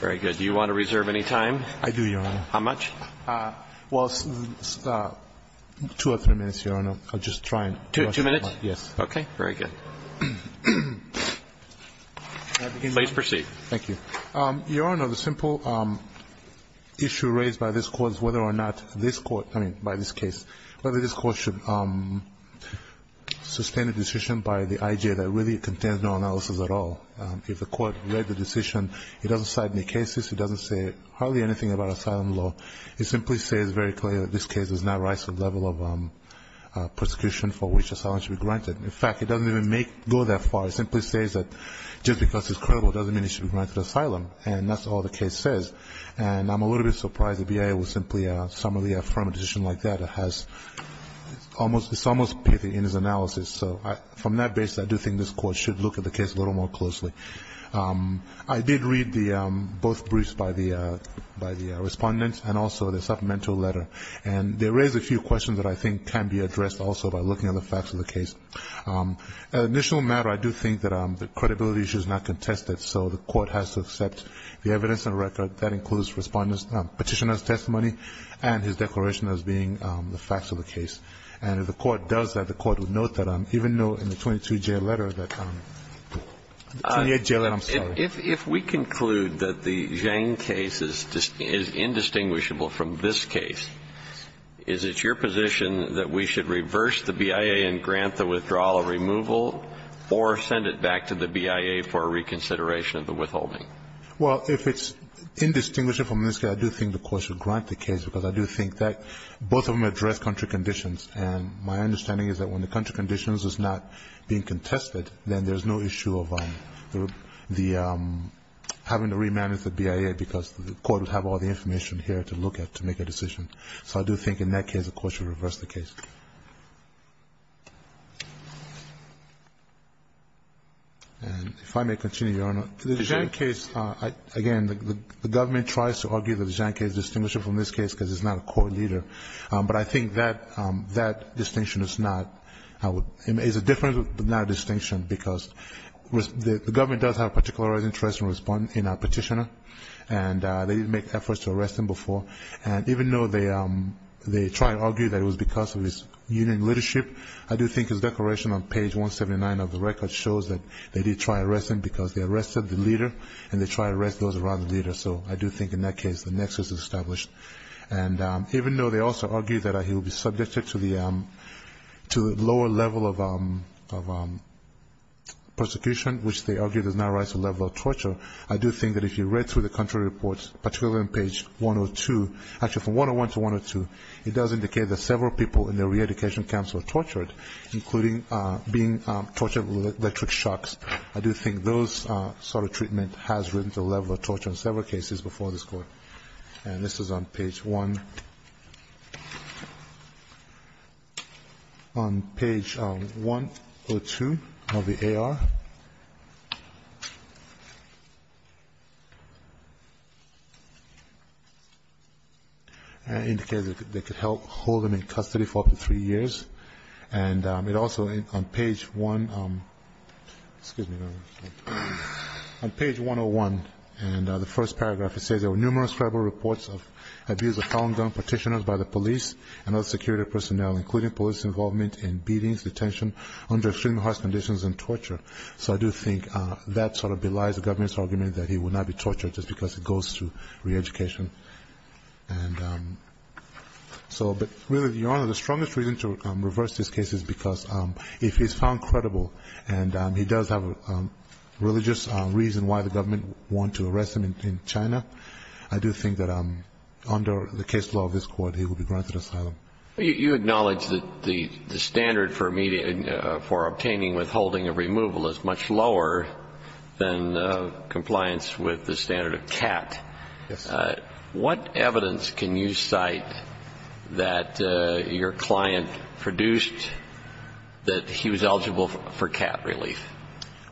Very good. Do you want to reserve any time? I do, Your Honor. How much? Well, two or three minutes, Your Honor. I'll just try and question him. Two minutes? Yes. Okay. Very good. Please proceed. Thank you. Your Honor, the simple issue raised by this Court is whether or not this Court by this case, whether this Court should sustain a decision by the IJ that really contains no analysis at all. If the Court read the decision, it doesn't cite any cases. It doesn't say hardly anything about asylum law. It simply says very clearly that this case does not rise to the level of prosecution for which asylum should be granted. In fact, it doesn't even go that far. It simply says that just because it's credible doesn't mean it should be granted asylum, and that's all the case says. And I'm a little bit surprised the BIA would simply summarily affirm a decision like that. It's almost pithy in its analysis. So from that basis, I do think this Court should look at the case a little more closely. I did read both briefs by the respondents and also the supplemental letter. And they raised a few questions that I think can be addressed also by looking at the facts of the case. At initial matter, I do think that the credibility issue is not contested, so the Court has to accept the evidence and record that includes petitioner's testimony and his declaration as being the facts of the case. And if the Court does that, the Court would note that even though in the 22-J letter that the 28-J letter, I'm sorry. If we conclude that the Zhang case is indistinguishable from this case, is it your position that we should reverse the BIA and grant the withdrawal a removal or send it back to the BIA for reconsideration of the withholding? Well, if it's indistinguishable from this case, I do think the Court should grant the case, because I do think that both of them address country conditions. And my understanding is that when the country conditions is not being contested, then there's no issue of the having to remanage the BIA, because the Court would have all the information here to look at to make a decision. So I do think in that case, the Court should reverse the case. And if I may continue, Your Honor. The Zhang case, again, the government tries to argue that the Zhang case is indistinguishable from this case because it's not a court leader. But I think that distinction is not, is a different, but not a distinction because the government does have a particular interest in our petitioner, and they did make efforts to arrest him before. And even though they try and argue that it was because of his union leadership, I do think his declaration on page 179 of the record shows that they did try to arrest him because they arrested the leader, and they tried to arrest those around the leader. So I do think in that case, the nexus is established. And even though they also argue that he will be subjected to the lower level of persecution, which they argue does not rise to the level of torture, I do think that if you read through the country reports, particularly on page 102, actually from 101 to 102, it does indicate that several people in the re-education camps were tortured, including being tortured with electric shocks. I do think those sort of treatment has risen to the level of torture in several cases before this Court. And this is on page 1, on page 102 of the AR, and it indicates that they could hold him in custody for up to three years. And it also, on page 1, excuse me, on page 101, and the first paragraph, it says there are indescribable reports of abuse of firearm partitioners by the police and other security personnel, including police involvement in beatings, detention, under extreme harsh conditions and torture. So I do think that sort of belies the government's argument that he will not be tortured just because he goes through re-education. And so, but really, Your Honor, the strongest reason to reverse this case is because if he's found credible and he does have a religious reason why the government want to arrest him in China, I do think that under the case law of this Court, he will be granted asylum. You acknowledge that the standard for obtaining withholding of removal is much lower than compliance with the standard of CAT. What evidence can you cite that your client produced that he was eligible for CAT relief?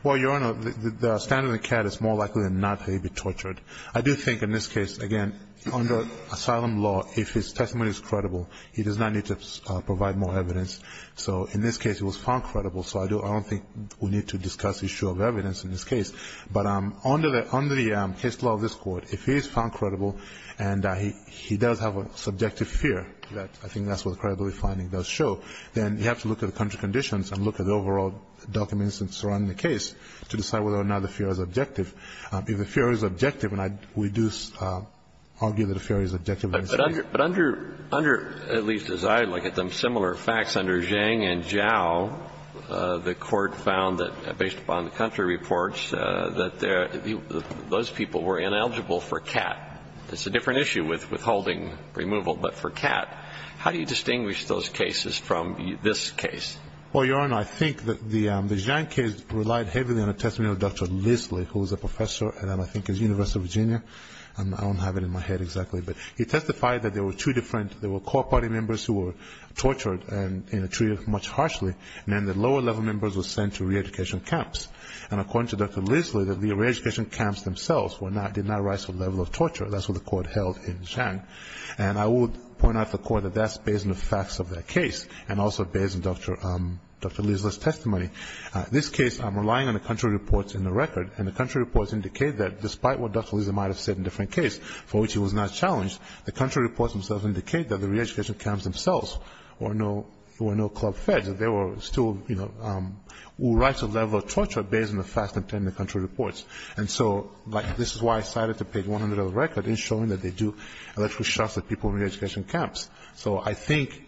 Well, Your Honor, the standard of CAT is more likely than not that he'd be tortured. I do think in this case, again, under asylum law, if his testimony is credible, he does not need to provide more evidence. So in this case, he was found credible, so I don't think we need to discuss issue of evidence in this case. But under the case law of this Court, if he is found credible and he does have a subjective fear that I think that's what the credibility finding does show, then you have to look at the country conditions and look at the overall documents surrounding the case to decide whether or not the fear is objective. If the fear is objective, and we do argue that the fear is objective in this case. But under, at least as I look at them, similar facts under Zhang and Zhao, the Court found that based upon the country reports, that those people were ineligible for CAT. It's a different issue with withholding removal, but for CAT, how do you distinguish those two cases? Well, Your Honor, I think that the Zhang case relied heavily on a testimony of Dr. Lisley, who is a professor at, I think, University of Virginia. I don't have it in my head exactly, but he testified that there were two different, there were core party members who were tortured and treated much harshly, and then the lower level members were sent to re-education camps. And according to Dr. Lisley, the re-education camps themselves did not rise to the level of torture. That's what the Court held in Zhang. And I would point out to the Court that that's based on the facts of that case, and also based on Dr. Lisley's testimony. This case, I'm relying on the country reports in the record, and the country reports indicate that despite what Dr. Lisley might have said in different cases, for which he was not challenged, the country reports themselves indicate that the re-education camps themselves were no club feds. They were still, you know, who rise to the level of torture based on the facts contained in the country reports. And so, like, this is why I cited the page 100 of the record in showing that they do electrical shocks at people in re-education camps. So I think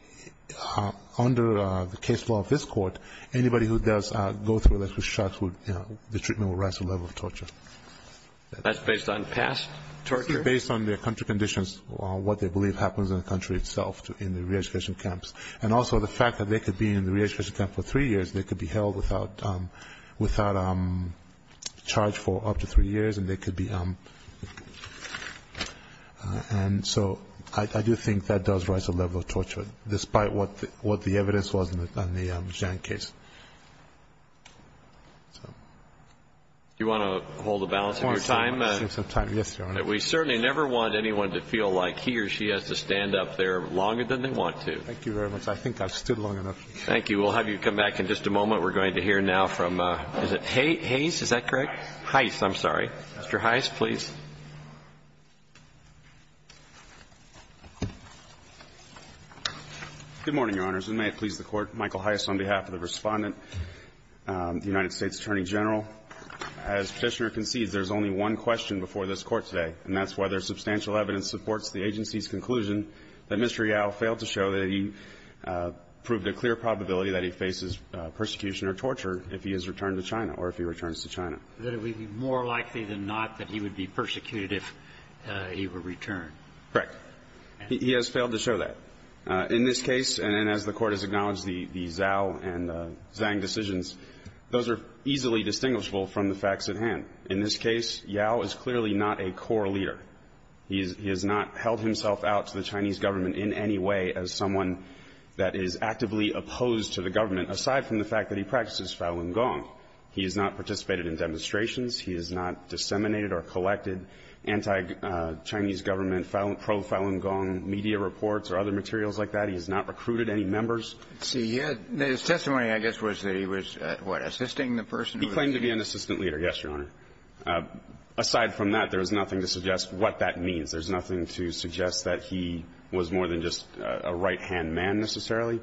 under the case law of this Court, anybody who does go through electrical shocks would, you know, the treatment would rise to the level of torture. That's based on past torture? Based on their country conditions, what they believe happens in the country itself in the re-education camps. And also the fact that they could be in the re-education camp for three years, they could be held without charge for up to three years, and they could be... And so I do think that does rise to the level of torture, despite what the evidence was in the Zhang case. Do you want to hold the balance of your time? We certainly never want anyone to feel like he or she has to stand up there longer than they want to. Thank you very much. I think I've stood long enough. Thank you. Thank you. We will have you come back in just a moment. We're going to hear now from, is it Hayes? Is that correct? Hayes. Hayes. I'm sorry. Mr. Hayes, please. Good morning, Your Honors, and may it please the Court. Michael Hayes on behalf of the Respondent, the United States Attorney General. As Petitioner concedes, there's only one question before this Court today, and that's whether substantial evidence supports the agency's conclusion that Mr. Yao failed to show that he proved a clear probability that he faces persecution or torture if he has returned to China or if he returns to China. That it would be more likely than not that he would be persecuted if he were returned. Correct. He has failed to show that. In this case, and as the Court has acknowledged, the Zhao and Zhang decisions, those are easily distinguishable from the facts at hand. In this case, Yao is clearly not a core leader. He has not held himself out to the Chinese government in any way as someone that is actively opposed to the government, aside from the fact that he practices Falun Gong. He has not participated in demonstrations. He has not disseminated or collected anti-Chinese government, pro-Falun Gong media reports or other materials like that. He has not recruited any members. Let's see. His testimony, I guess, was that he was, what, assisting the person who was being He claimed to be an assistant leader, yes, Your Honor. Aside from that, there is nothing to suggest what that means. There's nothing to suggest that he was more than just a right-hand man, necessarily.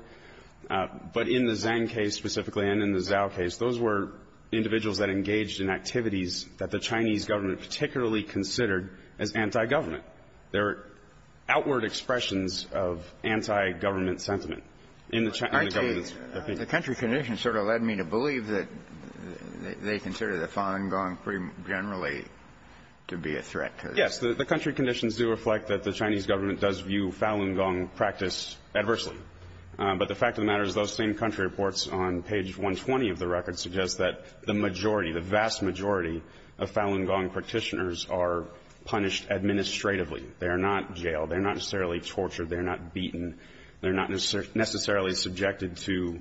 But in the Zhang case specifically and in the Zhao case, those were individuals that engaged in activities that the Chinese government particularly considered as anti-government. There are outward expressions of anti-government sentiment in the government's opinion. The country conditions sort of led me to believe that they consider the Falun Gong generally to be a threat to this. Yes. The country conditions do reflect that the Chinese government does view Falun Gong practice adversely. But the fact of the matter is those same country reports on page 120 of the record suggest that the majority, the vast majority of Falun Gong practitioners are punished administratively. They are not jailed. They are not necessarily tortured. They are not beaten. They are not necessarily subjected to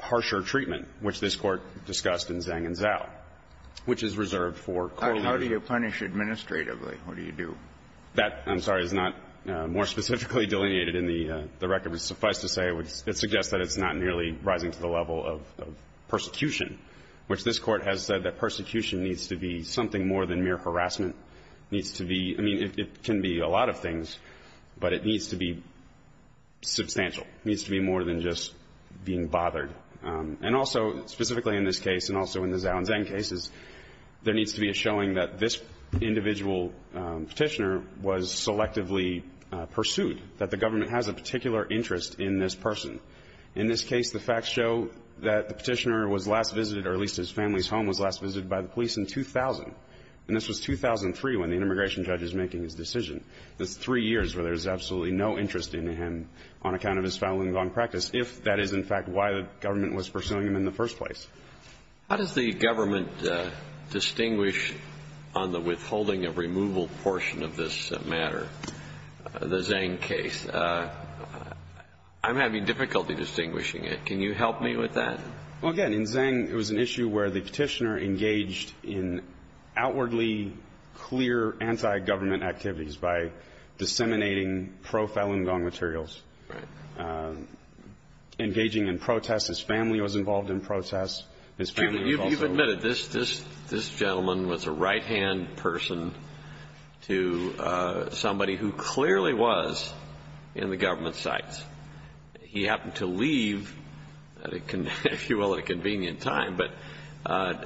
harsher treatment, which this Court discussed in Zhang and Zhao, which is reserved for court leaders. How do you punish administratively? What do you do? That, I'm sorry, is not more specifically delineated in the record. But suffice to say, it would suggest that it's not nearly rising to the level of persecution, which this Court has said that persecution needs to be something more than mere harassment. It needs to be – I mean, it can be a lot of things, but it needs to be substantial. It needs to be more than just being bothered. And also, specifically in this case and also in the Zhao and Zhang cases, there needs to be a showing that this individual Petitioner was selectively pursued, that the government has a particular interest in this person. In this case, the facts show that the Petitioner was last visited, or at least his family's home was last visited by the police in 2000. And this was 2003, when the immigration judge is making his decision. That's three years where there's absolutely no interest in him on account of his family and his own practice, if that is, in fact, why the government was pursuing him in the first place. How does the government distinguish on the withholding of removal portion of this matter, the Zhang case? I'm having difficulty distinguishing it. Can you help me with that? Well, again, in Zhang, it was an issue where the Petitioner engaged in outwardly clear anti-government activities by disseminating pro-Falun Gong materials. Right. Engaging in protests. His family was involved in protests. His family was also ---- You've admitted this gentleman was a right-hand person to somebody who clearly was in the government's sights. He happened to leave, if you will, at a convenient time. But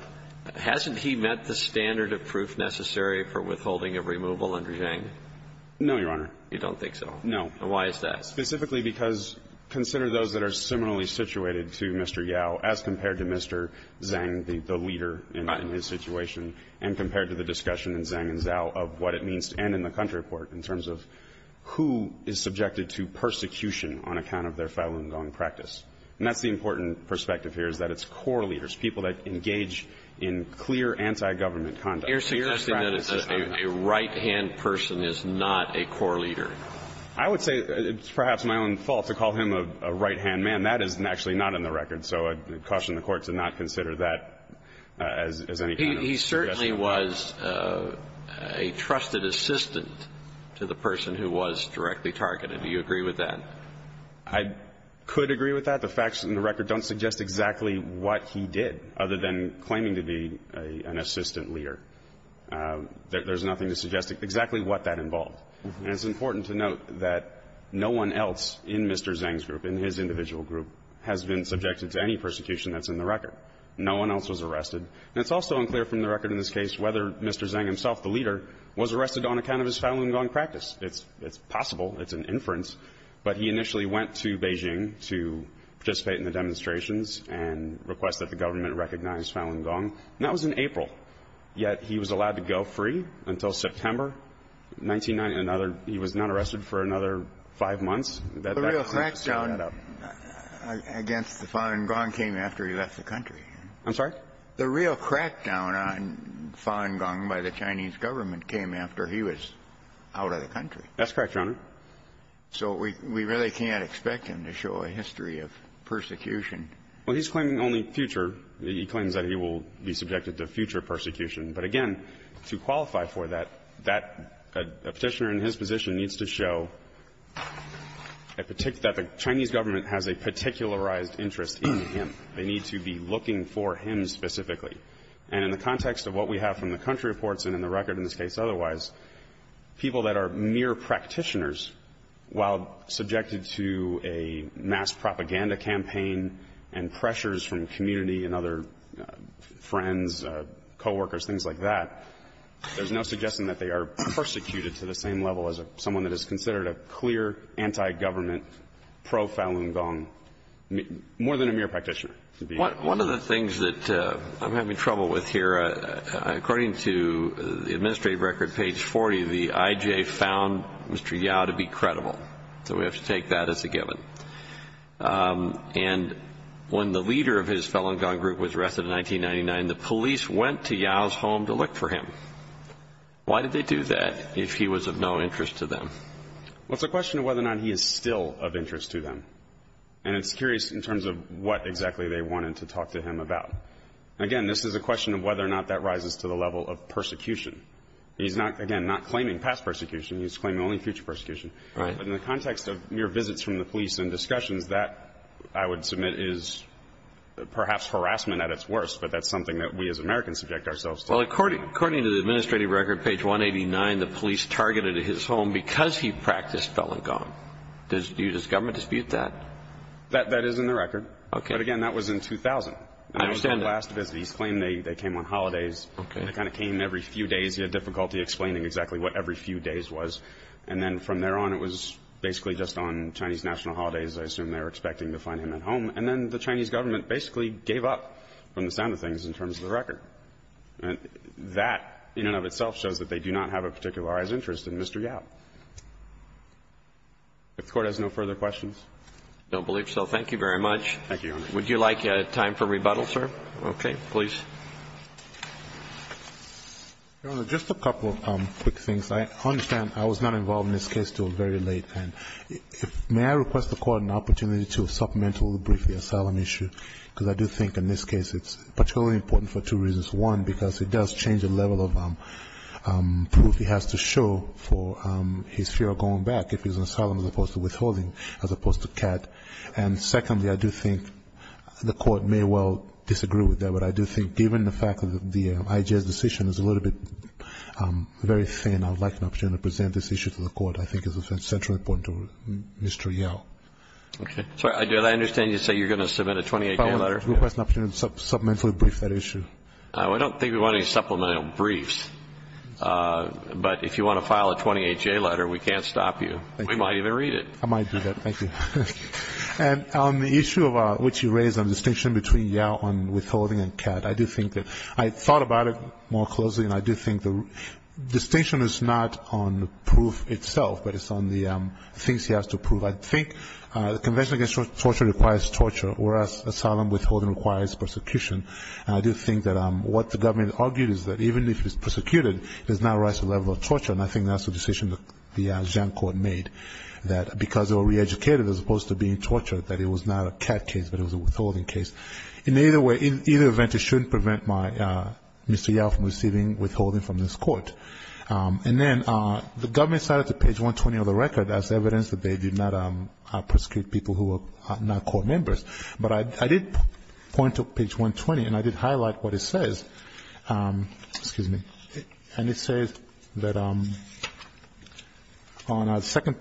hasn't he met the standard of proof necessary for withholding of removal under Zhang? No, Your Honor. You don't think so? No. And why is that? Specifically because consider those that are similarly situated to Mr. Yao as compared to Mr. Zhang, the leader in his situation, and compared to the discussion in Zhang and Zhao of what it means to end in the country court in terms of who is subjected to persecution on account of their Falun Gong practice. And that's the important perspective here, is that it's core leaders, people that engage in clear anti-government conduct. You're suggesting that a right-hand person is not a core leader. I would say it's perhaps my own fault to call him a right-hand man. That is actually not in the record. So I'd caution the Court to not consider that as any kind of suggestion. He certainly was a trusted assistant to the person who was directly targeted. Do you agree with that? I could agree with that. The facts in the record don't suggest exactly what he did, other than claiming to be an assistant leader. There's nothing to suggest exactly what that involved. And it's important to note that no one else in Mr. Zhang's group, in his individual group, has been subjected to any persecution that's in the record. No one else was arrested. And it's also unclear from the record in this case whether Mr. Zhang himself, the leader, was arrested on account of his Falun Gong practice. It's possible. It's an inference. But he initially went to Beijing to participate in the demonstrations and request that the government recognize Falun Gong. And that was in April. Yet he was allowed to go free until September 1990. Another he was not arrested for another five months. The real crackdown against the Falun Gong came after he left the country. I'm sorry? The real crackdown on Falun Gong by the Chinese government came after he was out of the country. That's correct, Your Honor. So we really can't expect him to show a history of persecution. Well, he's claiming only future. He claims that he will be subjected to future persecution. But again, to qualify for that, that the Petitioner in his position needs to show that the Chinese government has a particularized interest in him. They need to be looking for him specifically. And in the context of what we have from the country reports and in the record in this case, otherwise, people that are mere practitioners, while subjected to a mass propaganda campaign and pressures from community and other friends, coworkers, things like that, there's no suggestion that they are persecuted to the same level as someone that is considered a clear anti-government pro-Falun Gong, more than a mere practitioner. One of the things that I'm having trouble with here, according to the administrative record, page 40, the IJ found Mr. Yao to be credible. So we have to take that as a given. And when the leader of his Falun Gong group was arrested in 1999, the police went to Yao's home to look for him. Why did they do that if he was of no interest to them? Well, it's a question of whether or not he is still of interest to them. And it's curious in terms of what exactly they wanted to talk to him about. Again, this is a question of whether or not that rises to the level of persecution. He's not, again, not claiming past persecution. He's claiming only future persecution. But in the context of mere visits from the police and discussions, that, I would submit, is perhaps harassment at its worst. But that's something that we as Americans subject ourselves to. Well, according to the administrative record, page 189, the police targeted his home because he practiced Falun Gong. Does the government dispute that? That is in the record. But again, that was in 2000. And that was his last visit. He's claiming they came on holidays. They kind of came every few days. He had difficulty explaining exactly what every few days was. And then from there on, it was basically just on Chinese national holidays, I assume they were expecting to find him at home. And then the Chinese government basically gave up from the sound of things in terms of the record. That, in and of itself, shows that they do not have a particularized interest in Mr. Yao. If the Court has no further questions. I don't believe so. Thank you very much. Thank you, Your Honor. Would you like time for rebuttal, sir? Okay. Please. Your Honor, just a couple of quick things. I understand I was not involved in this case until very late. And may I request the Court an opportunity to supplemental briefly the asylum issue, because I do think in this case it's particularly important for two reasons. One, because it does change the level of proof he has to show for his fear of going back if he's in asylum as opposed to withholding, as opposed to CAT. And secondly, I do think the Court may well disagree with that. But I do think, given the fact that the IJA's decision is a little bit very thin, I would like an opportunity to present this issue to the Court. I think it's essentially important to Mr. Yao. Okay. Did I understand you to say you're going to submit a 28-J letter? I request an opportunity to supplementally brief that issue. I don't think we want any supplemental briefs. But if you want to file a 28-J letter, we can't stop you. We might even read it. I might do that. Thank you. And on the issue which you raised on the distinction between Yao and withholding and CAT, I do think that I thought about it more closely, and I do think the distinction is not on the proof itself, but it's on the things he has to prove. I think the Convention Against Torture requires torture, whereas asylum withholding requires persecution. And I do think that what the government argued is that even if he's persecuted, there's not a rise to the level of torture. And I think that's the decision the Jiang Court made, that because they were reeducated as opposed to being tortured, that it was not a CAT case, but it was a withholding case. In either event, it shouldn't prevent Mr. Yao from receiving withholding from this Court. And then the government cited to page 120 of the record as evidence that they did not persecute people who were not Court members. But I did point to page 120, and I did highlight what it says. Excuse me. And it says that on our second,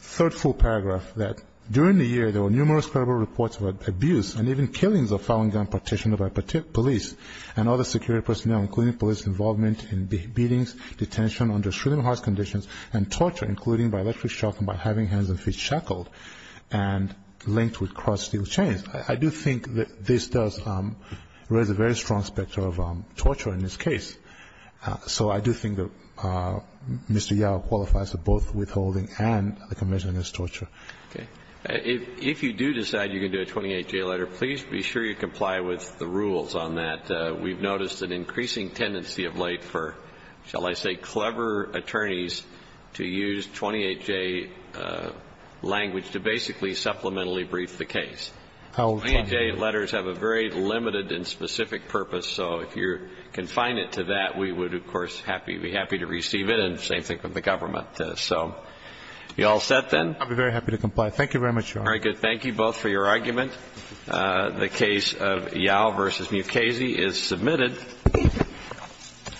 third full paragraph, that during the year, there were numerous credible reports of abuse and even killings of Falun Gong practitioners by police and other security personnel, including police involvement in beatings, detention under shooting-hard conditions, and torture, including by electric shock and by having hands and feet shackled and crossed steel chains. I do think that this does raise a very strong specter of torture in this case. So I do think that Mr. Yao qualifies for both withholding and the conviction as torture. Okay. If you do decide you're going to do a 28-J letter, please be sure you comply with the rules on that. We've noticed an increasing tendency of late for, shall I say, clever attorneys to use 28-J language to basically supplementally brief the case. 28-J letters have a very limited and specific purpose, so if you confine it to that, we would, of course, be happy to receive it, and the same thing with the government. So you all set, then? I'll be very happy to comply. Thank you very much, Your Honor. All right, good. Thank you both for your argument. The case of Yao v. Mukasey is submitted,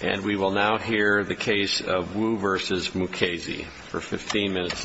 and we will now hear the case of Wu v. Mukasey for 15 minutes aside.